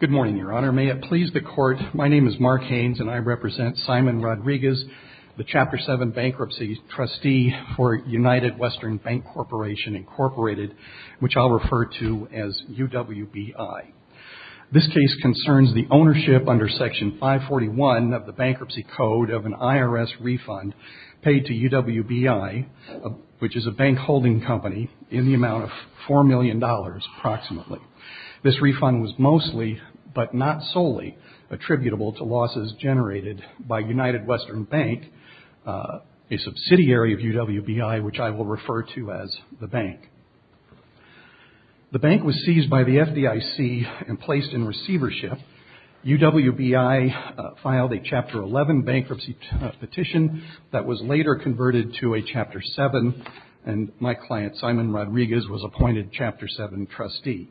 Good morning, Your Honor. May it please the Court, my name is Mark Haines, and I represent Simon Rodriguez, the Chapter 7 Bankruptcy Trustee for United Western Bank Corporation Incorporated, which I'll refer to as UWBI. This case concerns the ownership under Section 541 of the Bankruptcy Code of an IRS refund paid to UWBI, which is a bank holding company, in the amount of $4 million approximately. This refund was mostly, but not solely, attributable to losses generated by United Western Bank, a subsidiary of UWBI, which I will refer to as the bank. The bank was seized by the FDIC and placed in receivership. UWBI filed a Chapter 11 bankruptcy petition that was later converted to a Chapter 7, and my client, Simon Rodriguez, was appointed Chapter 7 trustee.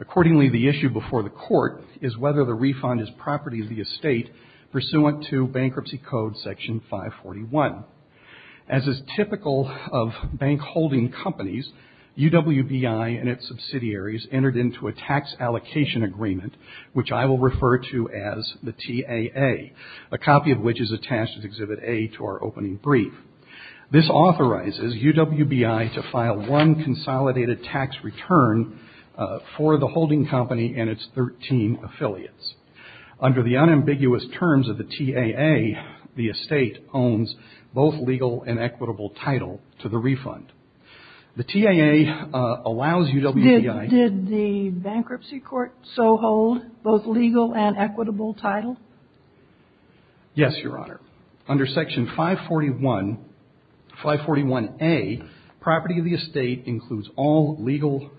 Accordingly, the issue before the Court is whether the refund is property of the estate pursuant to Bankruptcy Code Section 541. As is typical of bank holding companies, UWBI and its subsidiaries entered into a tax allocation agreement, which I will refer to as the TAA, a copy of which is attached as Exhibit A to our opening brief. This authorizes UWBI to file one consolidated tax return for the holding company and its 13 affiliates. Under the unambiguous terms of the TAA, the estate owns both legal and equitable title to the refund. The TAA allows UWBI... legal and equitable title? Yes, Your Honor. Under Section 541, 541A, property of the estate includes all legal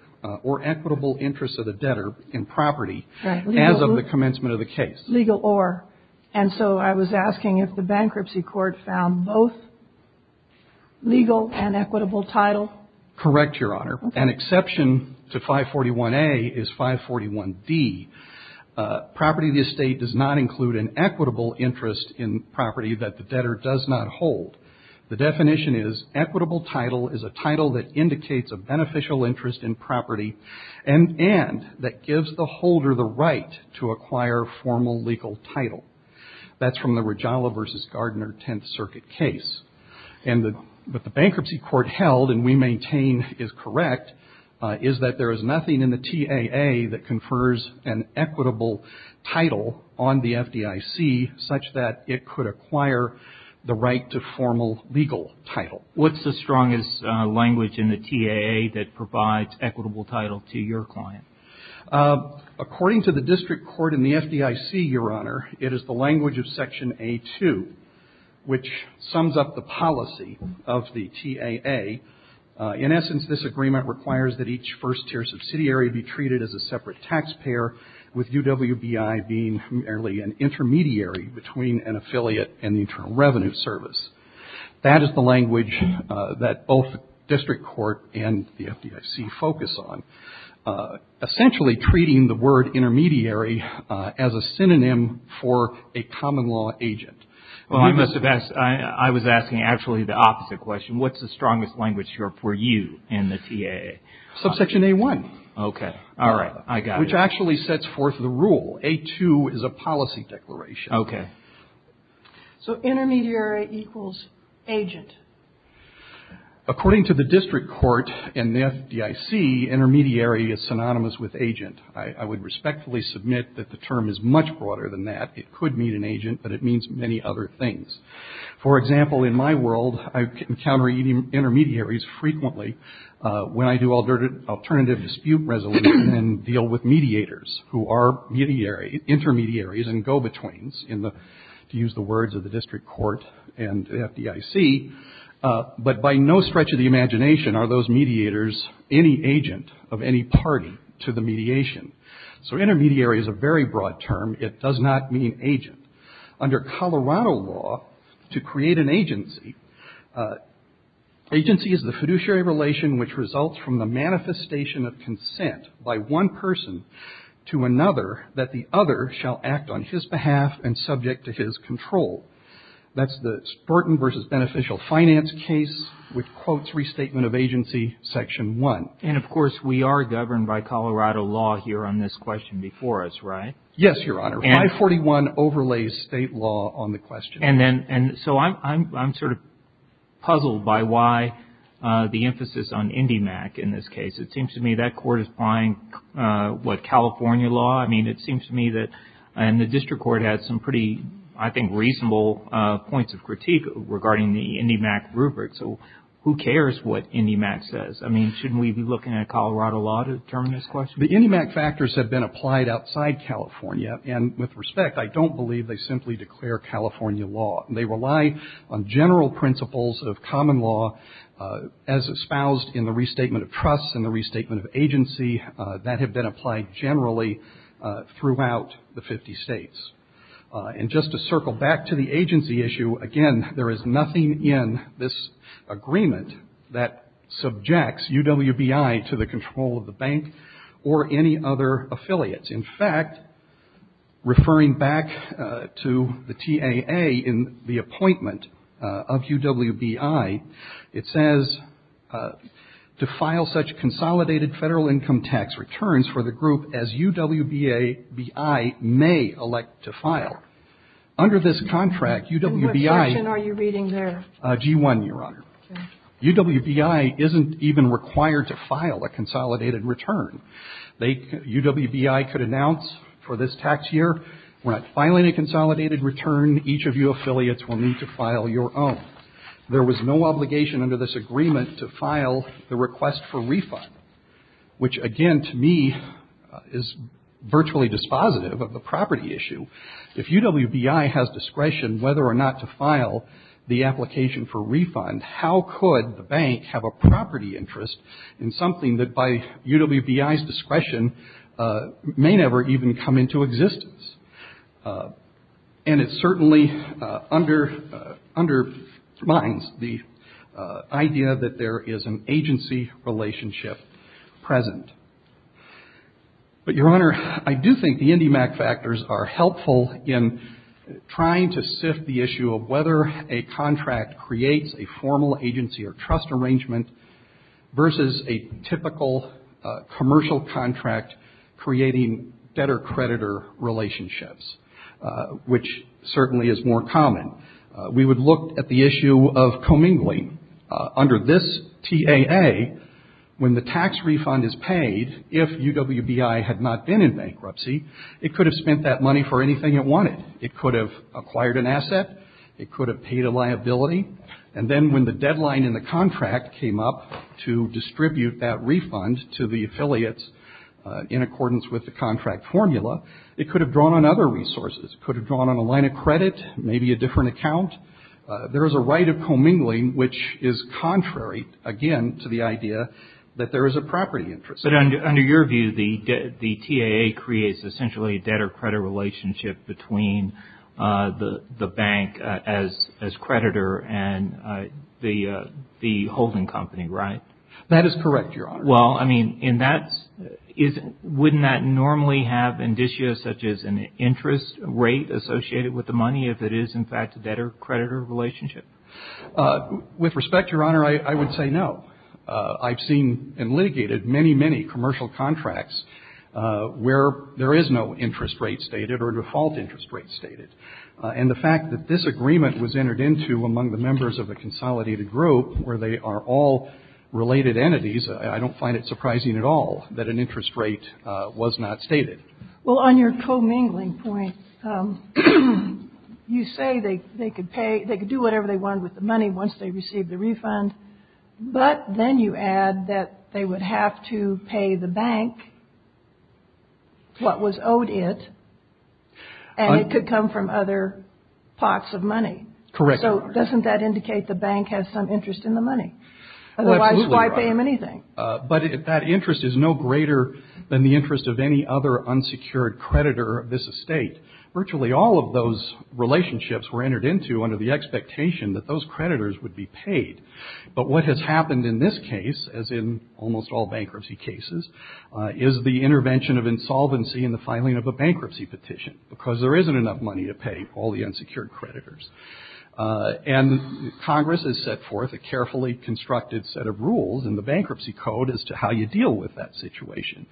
or equitable interests of the debtor in property as of the commencement of the case. Legal or. And so I was asking if the bankruptcy court found both legal and equitable title? Correct, Your Honor. An exception to 541A is 541D. Property of the estate does not include an equitable interest in property that the debtor does not hold. The definition is equitable title is a title that indicates a beneficial interest in property and that gives the holder the right to acquire formal legal title. That's from the Regala v. Gardner Tenth Circuit case. And the bankruptcy court held, and we maintain is correct, is that there is nothing in the TAA that confers an equitable title on the FDIC such that it could acquire the right to formal legal title. What's the strongest language in the TAA that provides equitable title to your client? According to the district court in the FDIC, Your Honor, it is the language of Section A-2, which sums up the policy of the TAA. In essence, this agreement requires that each first-tier subsidiary be treated as a separate taxpayer with UWBI being merely an intermediary between an affiliate and the Internal Revenue Service. That is the language that both district court and the FDIC focus on. Essentially treating the word intermediary as a synonym for a common law agent. Well, I must have asked, I was asking actually the opposite question. What's the strongest language here for you in the TAA? Subsection A-1. Okay. All right. I got it. Which actually sets forth the rule. A-2 is a policy declaration. Okay. So intermediary equals agent. According to the district court in the FDIC, intermediary is synonymous with agent. I would it means many other things. For example, in my world, I encounter intermediaries frequently when I do alternative dispute resolution and deal with mediators who are intermediaries and go-betweens, to use the words of the district court and FDIC. But by no stretch of the imagination are those mediators any agent of any party to the mediation. So intermediary is a very broad term. It does not mean agent. Under Colorado law, to create an agency, agency is the fiduciary relation which results from the manifestation of consent by one person to another that the other shall act on his behalf and subject to his control. That's the Spurton v. Beneficial Finance case, which quotes Restatement of Agency, Section 1. And of course, we are governed by Colorado law here on this question before us, right? Yes, Your Honor. 541 overlays state law on the question. And then, so I'm sort of puzzled by why the emphasis on IndyMac in this case. It seems to me that court is buying what, California law? I mean, it seems to me that the district court has some pretty, I think, reasonable points of critique regarding the IndyMac rubric. So who cares what IndyMac says? I mean, shouldn't we be looking at Colorado law to determine this question? The IndyMac factors have been applied outside California. And with respect, I don't believe they simply declare California law. They rely on general principles of common law as espoused in the Restatement of Trusts and the Restatement of Agency that have been applied generally throughout the 50 states. And just to circle back to the agency issue, again, there is nothing in this agreement that subjects UWBI to the control of the bank or any other affiliates. In fact, referring back to the TAA in the appointment of UWBI, it says, to file such consolidated federal income tax returns for the group as UWBI may elect to file. Under this contract, UWBI And what section are you reading there? G1, Your Honor. UWBI isn't even required to file a consolidated return. UWBI could announce for this tax year, we're not filing a consolidated return. Each of you affiliates will need to file your own. There was no obligation under this agreement to file the request for refund, which again, to me, is virtually dispositive of the property issue. If UWBI has discretion whether or not to file the application for refund, how could the bank have a property interest in something that by UWBI's discretion may never even come into existence? And it certainly undermines the idea that there is an agency-related relationship present. But, Your Honor, I do think the INDIMAC factors are helpful in trying to sift the issue of whether a contract creates a formal agency or trust arrangement versus a typical commercial contract creating debtor-creditor relationships, which certainly is more common. We would look at the issue of commingling. Under this TAA, when the tax refund is paid, if UWBI had not been in bankruptcy, it could have spent that money for anything it wanted. It could have acquired an asset. It could have paid a liability. And then when the deadline in the contract came up to distribute that refund to the affiliates in accordance with the contract formula, it could have drawn on other resources. It could have drawn on a line of credit, maybe a different account. There is a right of commingling, which is contrary again to the idea that there is a property interest. But under your view, the TAA creates essentially a debtor-creditor relationship between the bank as creditor and the holding company, right? That is correct, Your Honor. Well, I mean, and that's — wouldn't that normally have indicia such as an interest rate associated with the money if it is, in fact, a debtor-creditor relationship? With respect, Your Honor, I would say no. I've seen and litigated many, many commercial contracts where there is no interest rate stated or default interest rate stated. And the fact that this agreement was entered into among the members of a consolidated group where they are all related entities, I don't find it surprising at all that an interest rate was not stated. Well, on your commingling point, you say they could pay — they could do whatever they wanted with the money once they received the refund. But then you add that they would have to pay the bank what was owed it, and it could Correct, Your Honor. Doesn't that indicate the bank has some interest in the money? Well, absolutely, Your Honor. Otherwise, why pay them anything? But that interest is no greater than the interest of any other unsecured creditor of this estate. Virtually all of those relationships were entered into under the expectation that those creditors would be paid. But what has happened in this case, as in almost all bankruptcy cases, is the intervention of insolvency in the filing of a bankruptcy petition because there isn't enough money to pay all the unsecured creditors. And Congress has set forth a carefully constructed set of rules in the Bankruptcy Code as to how you deal with that situation.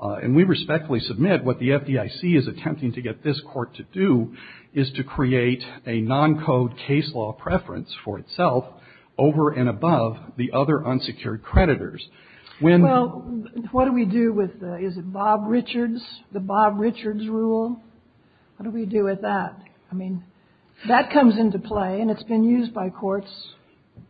And we respectfully submit what the FDIC is attempting to get this Court to do is to create a non-code case law preference for itself over and above the other unsecured creditors. Well, what do we do with the — is it Bob Richards, the Bob Richards rule? What do we do with that? I mean, that comes into play, and it's been used by courts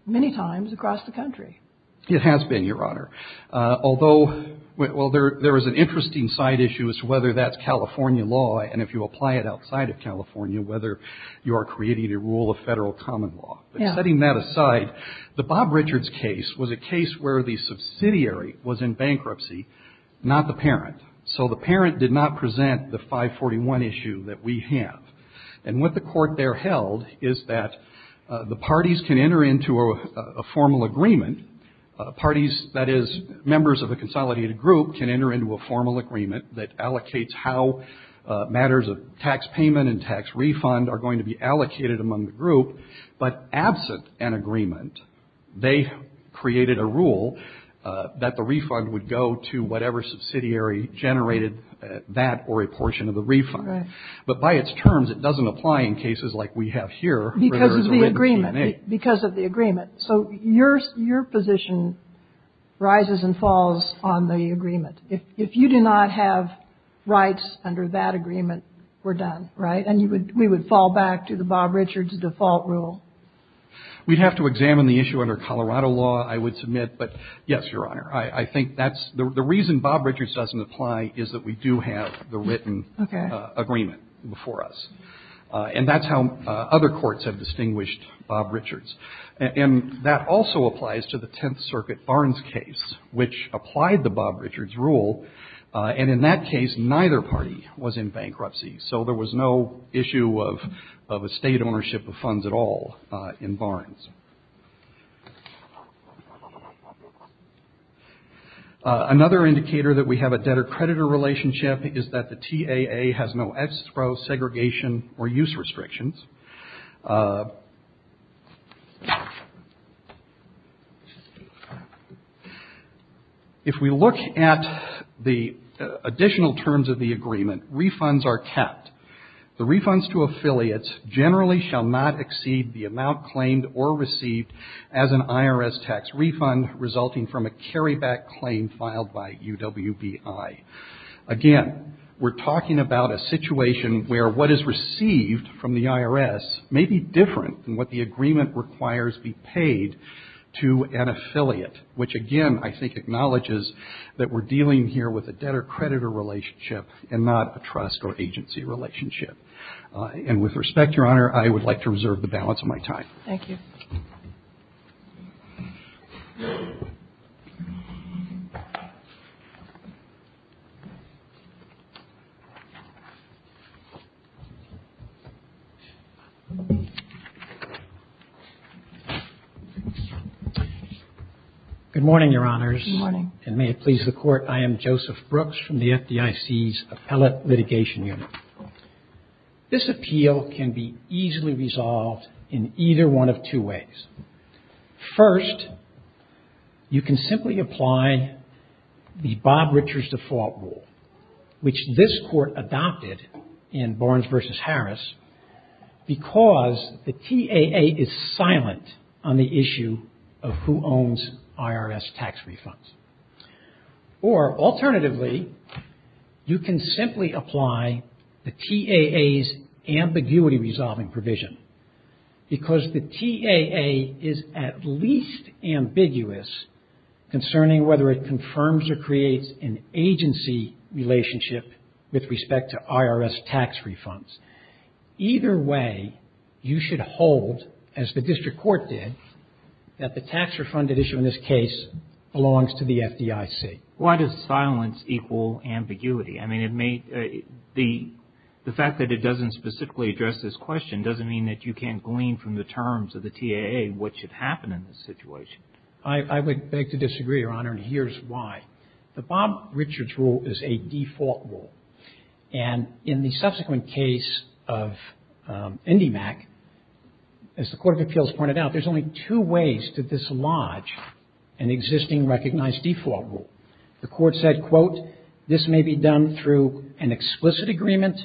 many times across the country. It has been, Your Honor. Although — well, there is an interesting side issue as to whether that's California law, and if you apply it outside of California, whether you are creating a rule of Federal common law. But setting that aside, the Bob Richards case was a case where the subsidiary was in bankruptcy, not the parent. So the parent did not present the 541 issue that we have. And what the Court there held is that the parties can enter into a formal agreement — parties, that is, members of a consolidated group can enter into a formal agreement that allocates how matters of tax payment and tax refund are going to be allocated among the group. But absent an agreement, they created a rule that the refund would go to whatever subsidiary generated that or a portion of the refund. But by its terms, it doesn't apply in cases like we have here. Because of the agreement. Because of the agreement. So your position rises and falls on the agreement. If you do not have rights under that agreement, we're done, right? And we would fall back to the Bob Richards default rule. We'd have to examine the issue under Colorado law, I would submit. But yes, Your Honor. I think that's — the reason Bob Richards doesn't apply is that we do have the written agreement before us. And that's how other courts have distinguished Bob Richards. And that also applies to the Tenth Circuit Barnes case, which applied the Bob Richards rule. And in that case, neither party was in bankruptcy. So there was no issue of estate ownership of funds at all in Barnes. Another indicator that we have a debtor-creditor relationship is that the TAA has no ex pro segregation or use restrictions. If we look at the additional terms of the agreement, refunds are kept. The refunds to affiliates generally shall not exceed the amount claimed or received as an IRS tax refund resulting from a carryback claim filed by UWBI. Again, we're talking about a situation where what is received from the IRS may be different than what the agreement requires be paid to an affiliate. Which again, I think, acknowledges that we're dealing here with a debtor-creditor relationship and not a trust or agency relationship. And with respect, Your Honor, I would like to reserve the balance of my time. Thank you. Good morning, Your Honors. And may it please the Court. I am Joseph Brooks from the FDIC's Appellate Litigation Unit. This appeal can be easily resolved in either one of two ways. First, you can simply apply the Bob Richards default rule, which this Court adopted in Barnes v. Harris, because the TAA is silent on the issue of who owns IRS tax refunds. Or alternatively, you can simply apply the TAA's ambiguity resolving provision, because the TAA is at least ambiguous concerning whether it confirms or creates an agency relationship with respect to IRS tax refunds. Either way, you should hold, as the District Court did, that the tax refunded issue in the case is subject to the FDIC. Why does silence equal ambiguity? I mean, the fact that it doesn't specifically address this question doesn't mean that you can't glean from the terms of the TAA what should happen in this situation. I would beg to disagree, Your Honor, and here's why. The Bob Richards rule is a default rule. And in the subsequent case of IndyMac, as the Court of Appeals pointed out, there's only two ways to dislodge an existing recognized default rule. The Court said, quote, this may be done through an explicit agreement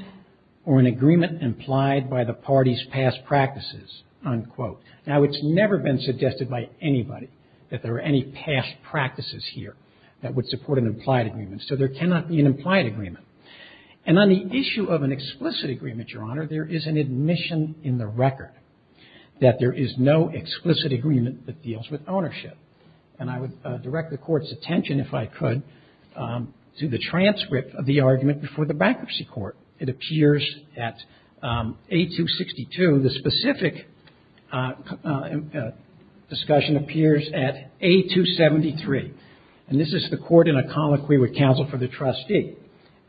or an agreement implied by the party's past practices, unquote. Now, it's never been suggested by anybody that there are any past practices here that would support an implied agreement. So there cannot be an implied agreement. And on the issue of an explicit agreement, Your Honor, there is an admission in the record that there is no explicit agreement that deals with ownership. And I would direct the Court's attention, if I could, to the transcript of the argument before the Bankruptcy Court. It appears at A262. And the specific discussion appears at A273. And this is the court in a colloquy with counsel for the trustee.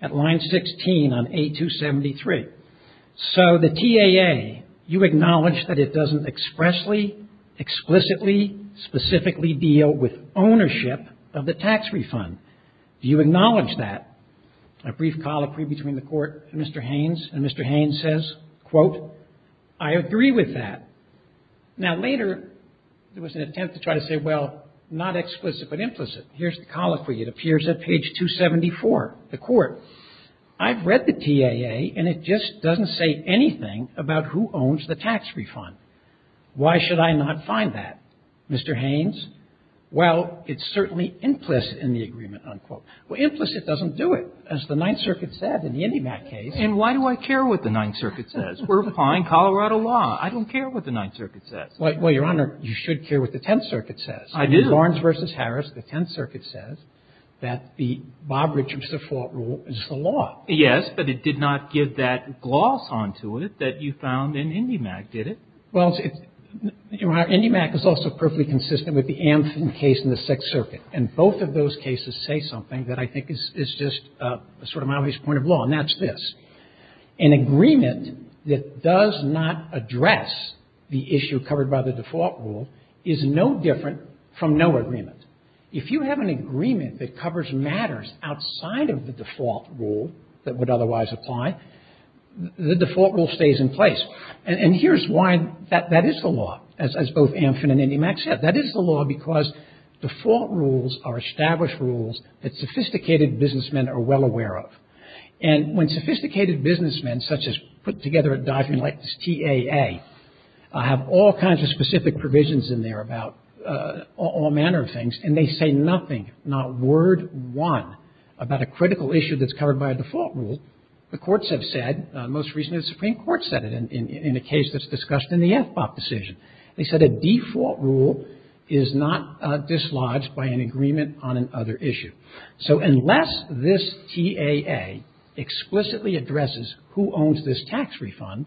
At line 16 on A273. So the TAA, you acknowledge that it doesn't expressly, explicitly, specifically deal with ownership of the tax refund. Do you acknowledge that? A brief colloquy between the Court and Mr. Haynes. And Mr. Haynes says, quote, I agree with that. Now, later there was an attempt to try to say, well, not explicit but implicit. Here's the colloquy. It appears at page 274. The Court, I've read the TAA and it just doesn't say anything about who owns the tax refund. Why should I not find that, Mr. Haynes? Well, it's certainly implicit in the agreement, unquote. Well, implicit doesn't do it, as the Ninth Circuit said in the IndyMac case. And why do I care what the Ninth Circuit says? We're applying Colorado law. I don't care what the Ninth Circuit says. Well, Your Honor, you should care what the Tenth Circuit says. I do. In Lawrence v. Harris, the Tenth Circuit says that the Bob Richards default rule is the law. Yes, but it did not give that gloss onto it that you found in IndyMac, did it? Well, Your Honor, IndyMac is also perfectly consistent with the Ampson case in the Sixth Circuit. And both of those cases say something that I think is just sort of my obvious point of law, and that's this. An agreement that does not address the issue covered by the default rule is no different from no agreement. If you have an agreement that covers matters outside of the default rule that would otherwise apply, the default rule stays in place. And here's why that is the law, as both Ampson and IndyMac said. That is the law because default rules are established rules that sophisticated businessmen are well aware of. And when sophisticated businessmen, such as put together at Diefenbach like this TAA, have all kinds of specific provisions in there about all manner of things, and they say nothing, not word one, about a critical issue that's covered by a default rule, the courts have said, most recently the Supreme Court said it in a case that's discussed in the FBOC decision. They said a default rule is not dislodged by an agreement on another issue. So unless this TAA explicitly addresses who owns this tax refund,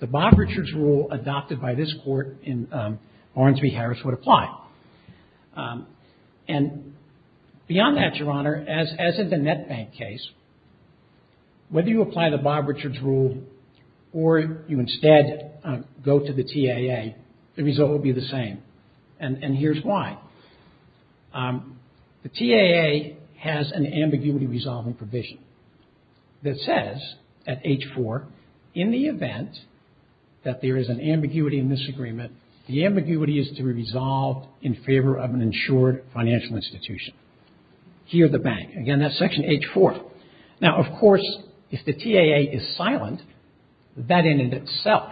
the Bob Richards rule adopted by this Court in Barnes v. Harris would apply. And beyond that, Your Honor, as in the NetBank case, whether you apply the Bob Richards rule or you instead go to the TAA, the result will be the same. And here's why. The TAA has an ambiguity resolving provision that says at H-4, in the event that there is an ambiguity in this agreement, the ambiguity is to be resolved in favor of an insured financial institution. Here the bank. Again, that's section H-4. Now, of course, if the TAA is silent, that in and of itself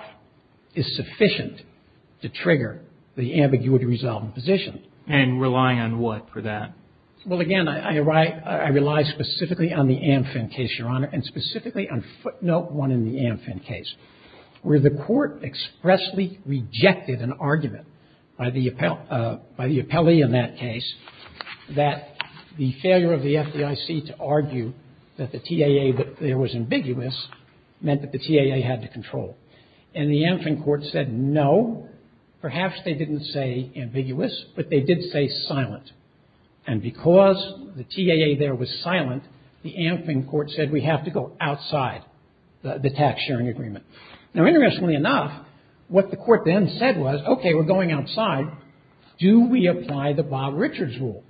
is sufficient to trigger the ambiguity resolving position. And relying on what for that? Well, again, I rely specifically on the Amfin case, Your Honor, and specifically on footnote one in the Amfin case, where the Court expressly rejected an argument by the appellee in that case that the failure of the FDIC to argue that the TAA there was ambiguous meant that the TAA had the control. And the Amfin Court said no, perhaps they didn't say ambiguous, but they did say silent. And because the TAA there was silent, the Amfin Court said we have to go outside the tax-sharing agreement. Now, interestingly enough, what the Court then said was, okay, we're going outside. Do we apply the Bob Richards rule?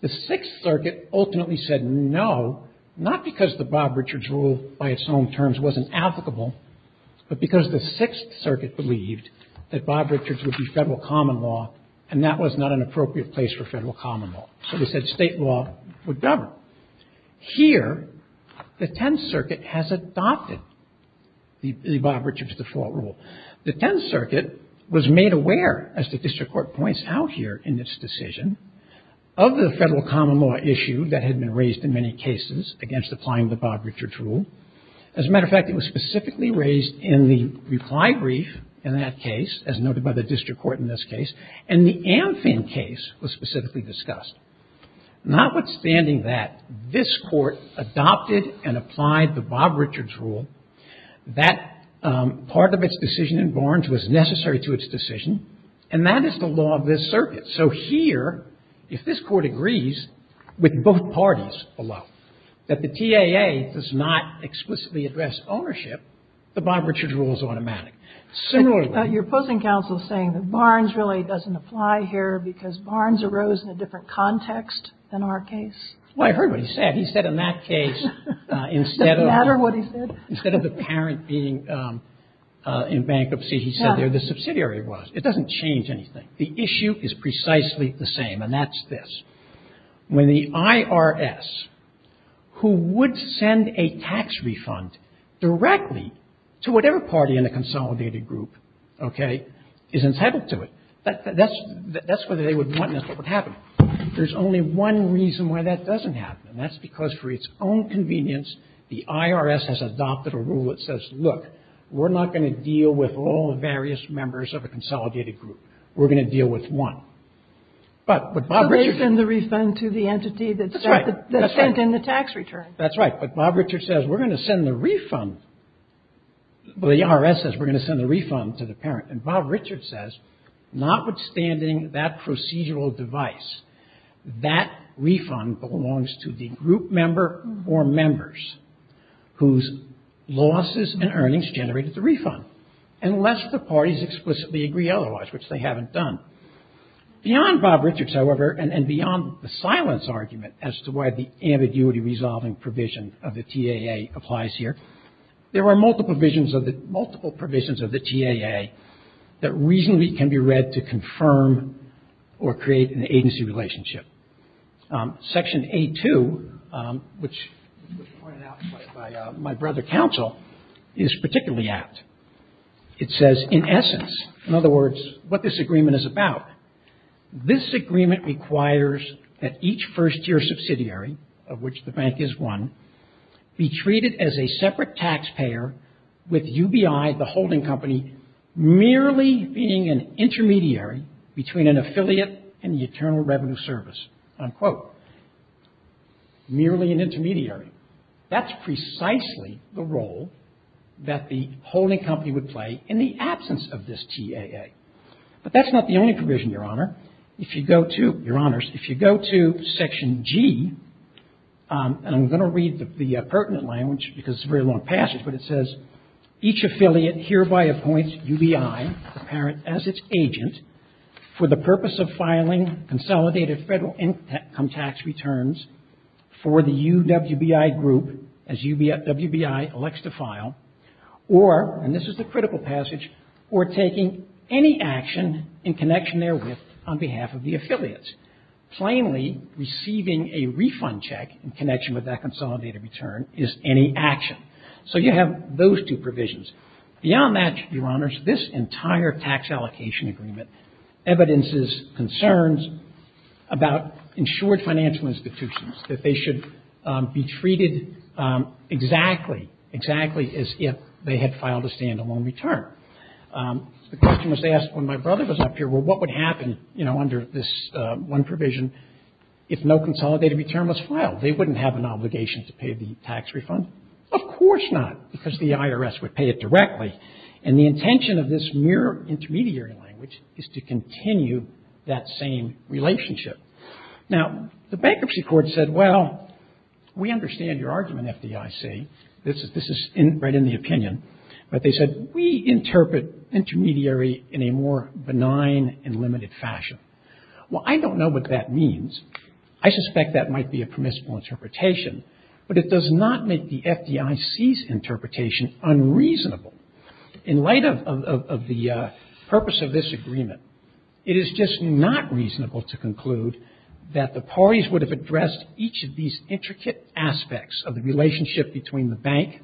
The Sixth Circuit ultimately said no, not because the Bob Richards rule by its own terms wasn't applicable, but because the Sixth Circuit believed that Bob Richards would be Federal common law, and that was not an appropriate place for Federal common law. So they said State law would govern. Now, here, the Tenth Circuit has adopted the Bob Richards default rule. The Tenth Circuit was made aware, as the district court points out here in its decision, of the Federal common law issue that had been raised in many cases against applying the Bob Richards rule. As a matter of fact, it was specifically raised in the reply brief in that case, as noted by the district court in this case, and the Amfin case was specifically discussed. Notwithstanding that, this Court adopted and applied the Bob Richards rule. That part of its decision in Barnes was necessary to its decision, and that is the law of this circuit. So here, if this Court agrees with both parties below, that the TAA does not explicitly address ownership, the Bob Richards rule is automatic. Similarly ---- Kagan. Your opposing counsel is saying that Barnes really doesn't apply here because Barnes arose in a different context than our case. Well, I heard what he said. He said in that case, instead of ---- It doesn't matter what he said? Instead of the parent being in bankruptcy, he said there the subsidiary was. It doesn't change anything. The issue is precisely the same, and that's this. When the IRS, who would send a tax refund directly to whatever party in the consolidated group, okay, is entitled to it. That's what they would want, and that's what would happen. There's only one reason why that doesn't happen, and that's because for its own convenience, the IRS has adopted a rule that says, look, we're not going to deal with all the various members of a consolidated group. We're going to deal with one. But what Bob Richards ---- So they send the refund to the entity that sent in the tax return. That's right. That's right. Well, the IRS says we're going to send the refund to the parent, and Bob Richards says, notwithstanding that procedural device, that refund belongs to the group member or members whose losses and earnings generated the refund, unless the parties explicitly agree otherwise, which they haven't done. Beyond Bob Richards, however, and beyond the silence argument as to why the ambiguity resolving provision of the TAA applies here, there are multiple provisions of the ---- multiple provisions of the TAA that reasonably can be read to confirm or create an agency relationship. Section A2, which was pointed out by my brother counsel, is particularly apt. It says, in essence, in other words, what this agreement is about. This agreement requires that each first-year subsidiary, of which the bank is one, be treated as a separate taxpayer with UBI, the holding company, merely being an intermediary between an affiliate and the Internal Revenue Service, unquote. Merely an intermediary. That's precisely the role that the holding company would play in the absence of this TAA. But that's not the only provision, Your Honor. If you go to, Your Honors, if you go to Section G, and I'm going to read the pertinent language because it's a very long passage, but it says, each affiliate hereby appoints UBI, the parent as its agent, for the purpose of filing consolidated federal income tax returns for the UWBI group as UWBI elects to file, or, and this is the critical passage, or taking any action in connection therewith on behalf of the affiliates. Plainly receiving a refund check in connection with that consolidated return is any action. So you have those two provisions. Beyond that, Your Honors, this entire tax allocation agreement evidences concerns about insured financial institutions, that they should be treated exactly, exactly as if they had filed a standalone return. The question was asked when my brother was up here, well, what would happen, you know, under this one provision if no consolidated return was filed? They wouldn't have an obligation to pay the tax refund? Of course not, because the IRS would pay it directly. And the intention of this mere intermediary language is to continue that same relationship. Now, the Bankruptcy Court said, well, we understand your argument, FDIC. This is right in the opinion. But they said, we interpret intermediary in a more benign and limited fashion. Well, I don't know what that means. I suspect that might be a permissible interpretation. But it does not make the FDIC's interpretation unreasonable. In light of the purpose of this agreement, it is just not reasonable to conclude that the parties would have addressed each of these intricate aspects of the relationship between the bank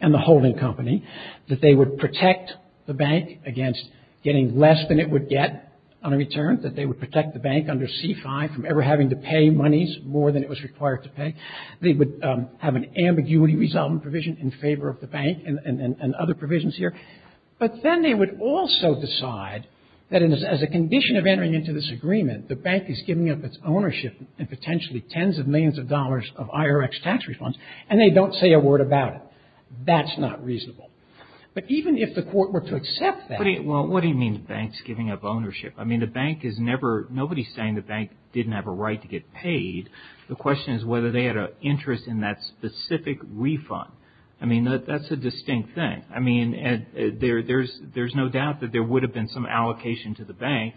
and the holding company, that they would protect the bank against getting less than it would get on a return, that they would protect the bank under C-5 from ever having to pay monies more than it was required to pay. They would have an ambiguity resolvement provision in favor of the bank and other provisions here. But then they would also decide that as a condition of entering into this agreement, the bank is giving up its ownership and potentially tens of millions of dollars of IRX tax refunds, and they don't say a word about it. That's not reasonable. But even if the Court were to accept that. Well, what do you mean the bank's giving up ownership? I mean, the bank is never – nobody's saying the bank didn't have a right to get paid. The question is whether they had an interest in that specific refund. I mean, that's a distinct thing. I mean, there's no doubt that there would have been some allocation to the bank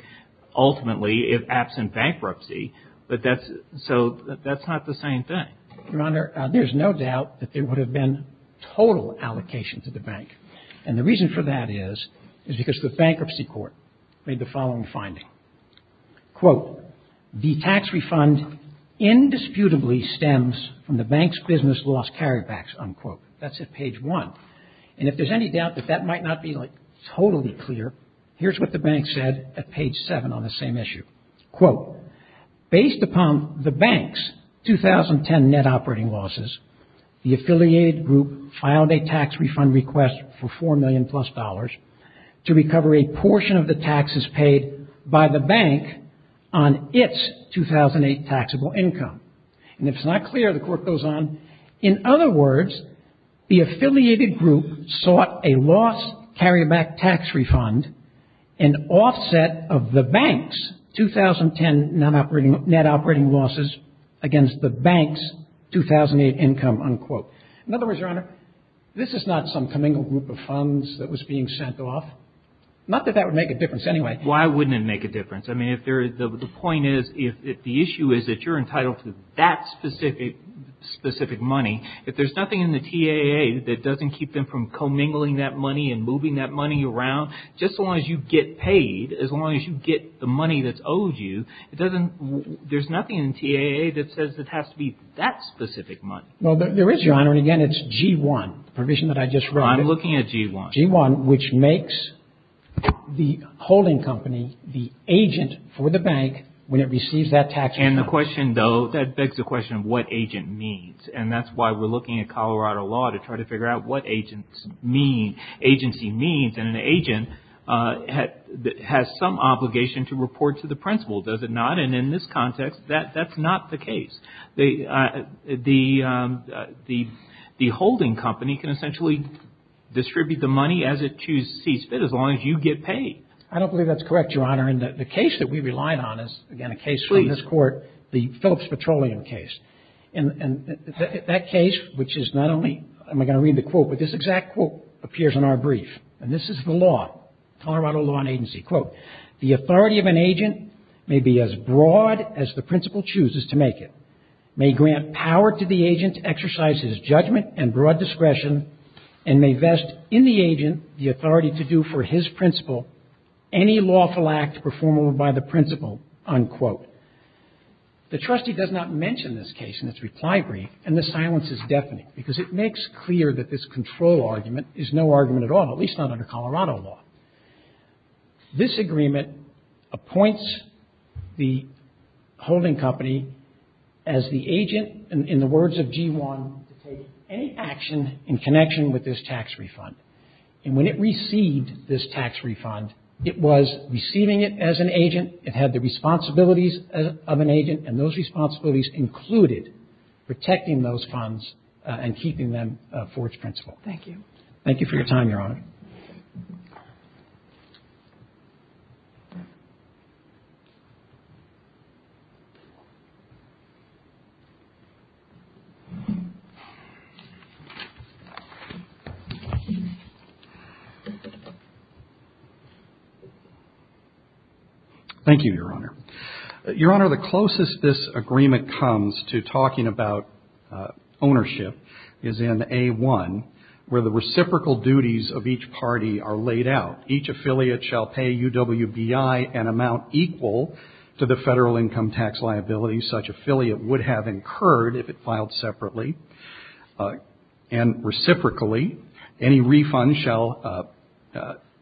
ultimately if absent bankruptcy, but that's – so that's not the same thing. Your Honor, there's no doubt that there would have been total allocation to the bank. And the reason for that is, is because the bankruptcy court made the following finding. Quote, the tax refund indisputably stems from the bank's business loss carrybacks, unquote. That's at page 1. And if there's any doubt that that might not be, like, totally clear, here's what the bank said at page 7 on the same issue. Quote, based upon the bank's 2010 net operating losses, the affiliated group filed a tax refund request for $4 million plus to recover a portion of the taxes paid by the bank on its 2008 taxable income. And if it's not clear, the Court goes on. In other words, the affiliated group sought a loss carryback tax refund in offset of the bank's 2010 net operating losses against the bank's 2008 income, unquote. In other words, Your Honor, this is not some commingled group of funds that was being sent off. Not that that would make a difference anyway. Why wouldn't it make a difference? I mean, if there – the point is, if the issue is that you're entitled to that specific money, if there's nothing in the TAA that doesn't keep them from commingling that money and moving that money around, just as long as you get paid, as long as you get the money that's owed you, it doesn't – there's nothing in the TAA that says it has to be that specific money. Well, there is, Your Honor, and again, it's G-1, the provision that I just wrote. I'm looking at G-1. G-1, which makes the holding company the agent for the bank when it receives that tax refund. And the question, though, that begs the question of what agent means. And that's why we're looking at Colorado law to try to figure out what agents mean. And an agent has some obligation to report to the principal, does it not? And in this context, that's not the case. The holding company can essentially distribute the money as it sees fit, as long as you get paid. I don't believe that's correct, Your Honor. And the case that we relied on is, again, a case from this Court, the Phillips Petroleum case. And that case, which is not only – am I going to read the quote? This exact quote appears in our brief. And this is the law, Colorado Law and Agency. Quote, the authority of an agent may be as broad as the principal chooses to make it, may grant power to the agent to exercise his judgment and broad discretion, and may vest in the agent the authority to do for his principal any lawful act performed by the principal, unquote. The trustee does not mention this case in its reply brief, and the silence is deafening, because it makes clear that this control argument is no argument at all, at least not under Colorado Law. This agreement appoints the holding company as the agent, in the words of G1, to take any action in connection with this tax refund. And when it received this tax refund, it was receiving it as an agent, it had the responsibilities of an agent, and those responsibilities included protecting those funds and keeping them for its principal. Thank you. Thank you for your time, Your Honor. Thank you, Your Honor. Your Honor, the closest this agreement comes to talking about ownership is in A1, where the reciprocal duties of each party are laid out. Each affiliate shall pay UWBI an amount equal to the federal income tax liability such affiliate would have incurred if it filed separately. And reciprocally, any refund shall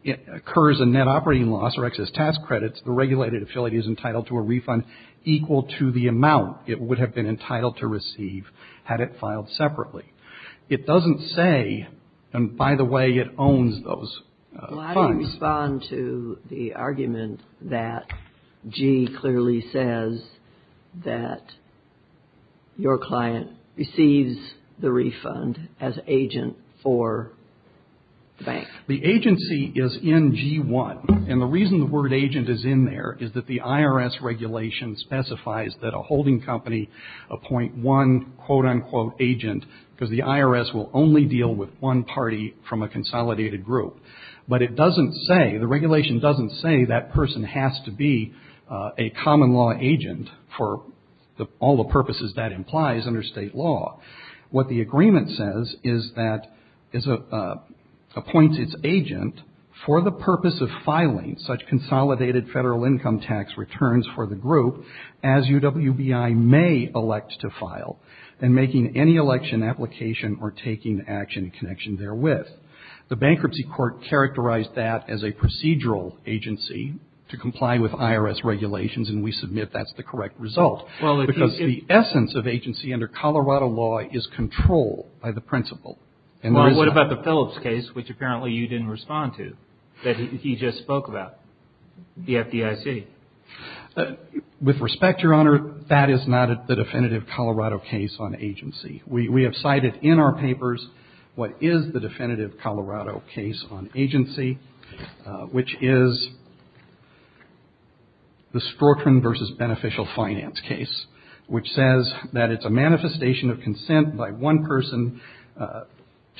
occur as a net operating loss or excess tax credits. The regulated affiliate is entitled to a refund equal to the amount it would have been entitled to receive had it filed separately. It doesn't say, and by the way, it owns those funds. Well, how do you respond to the argument that G clearly says that your client receives the refund as agent for the bank? The agency is in G1. And the reason the word agent is in there is that the IRS regulation specifies that a holding company appoint one, quote, unquote, agent because the IRS will only deal with one party from a consolidated group. But it doesn't say, the regulation doesn't say that person has to be a common law agent for all the purposes that implies under state law. What the agreement says is that appoints its agent for the purpose of filing such consolidated federal income tax returns for the group as UWBI may elect to file and making any election application or taking action in connection therewith. The bankruptcy court characterized that as a procedural agency to comply with IRS regulations, and we submit that's the correct result. Because the essence of agency under Colorado law is control by the principal. Well, what about the Phillips case, which apparently you didn't respond to, that he just spoke about, the FDIC? With respect, Your Honor, that is not the definitive Colorado case on agency. We have cited in our papers what is the definitive Colorado case on agency, which is the Storchman v. Beneficial Finance case, which says that it's a manifestation of consent by one person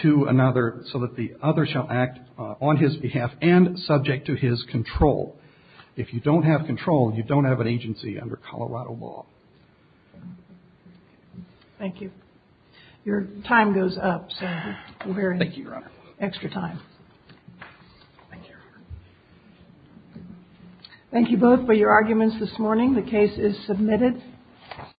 to another so that the other shall act on his behalf and subject to his control. If you don't have control, you don't have an agency under Colorado law. Thank you. Your time goes up. Thank you, Your Honor. Extra time. Thank you. Thank you both for your arguments this morning. The case is submitted.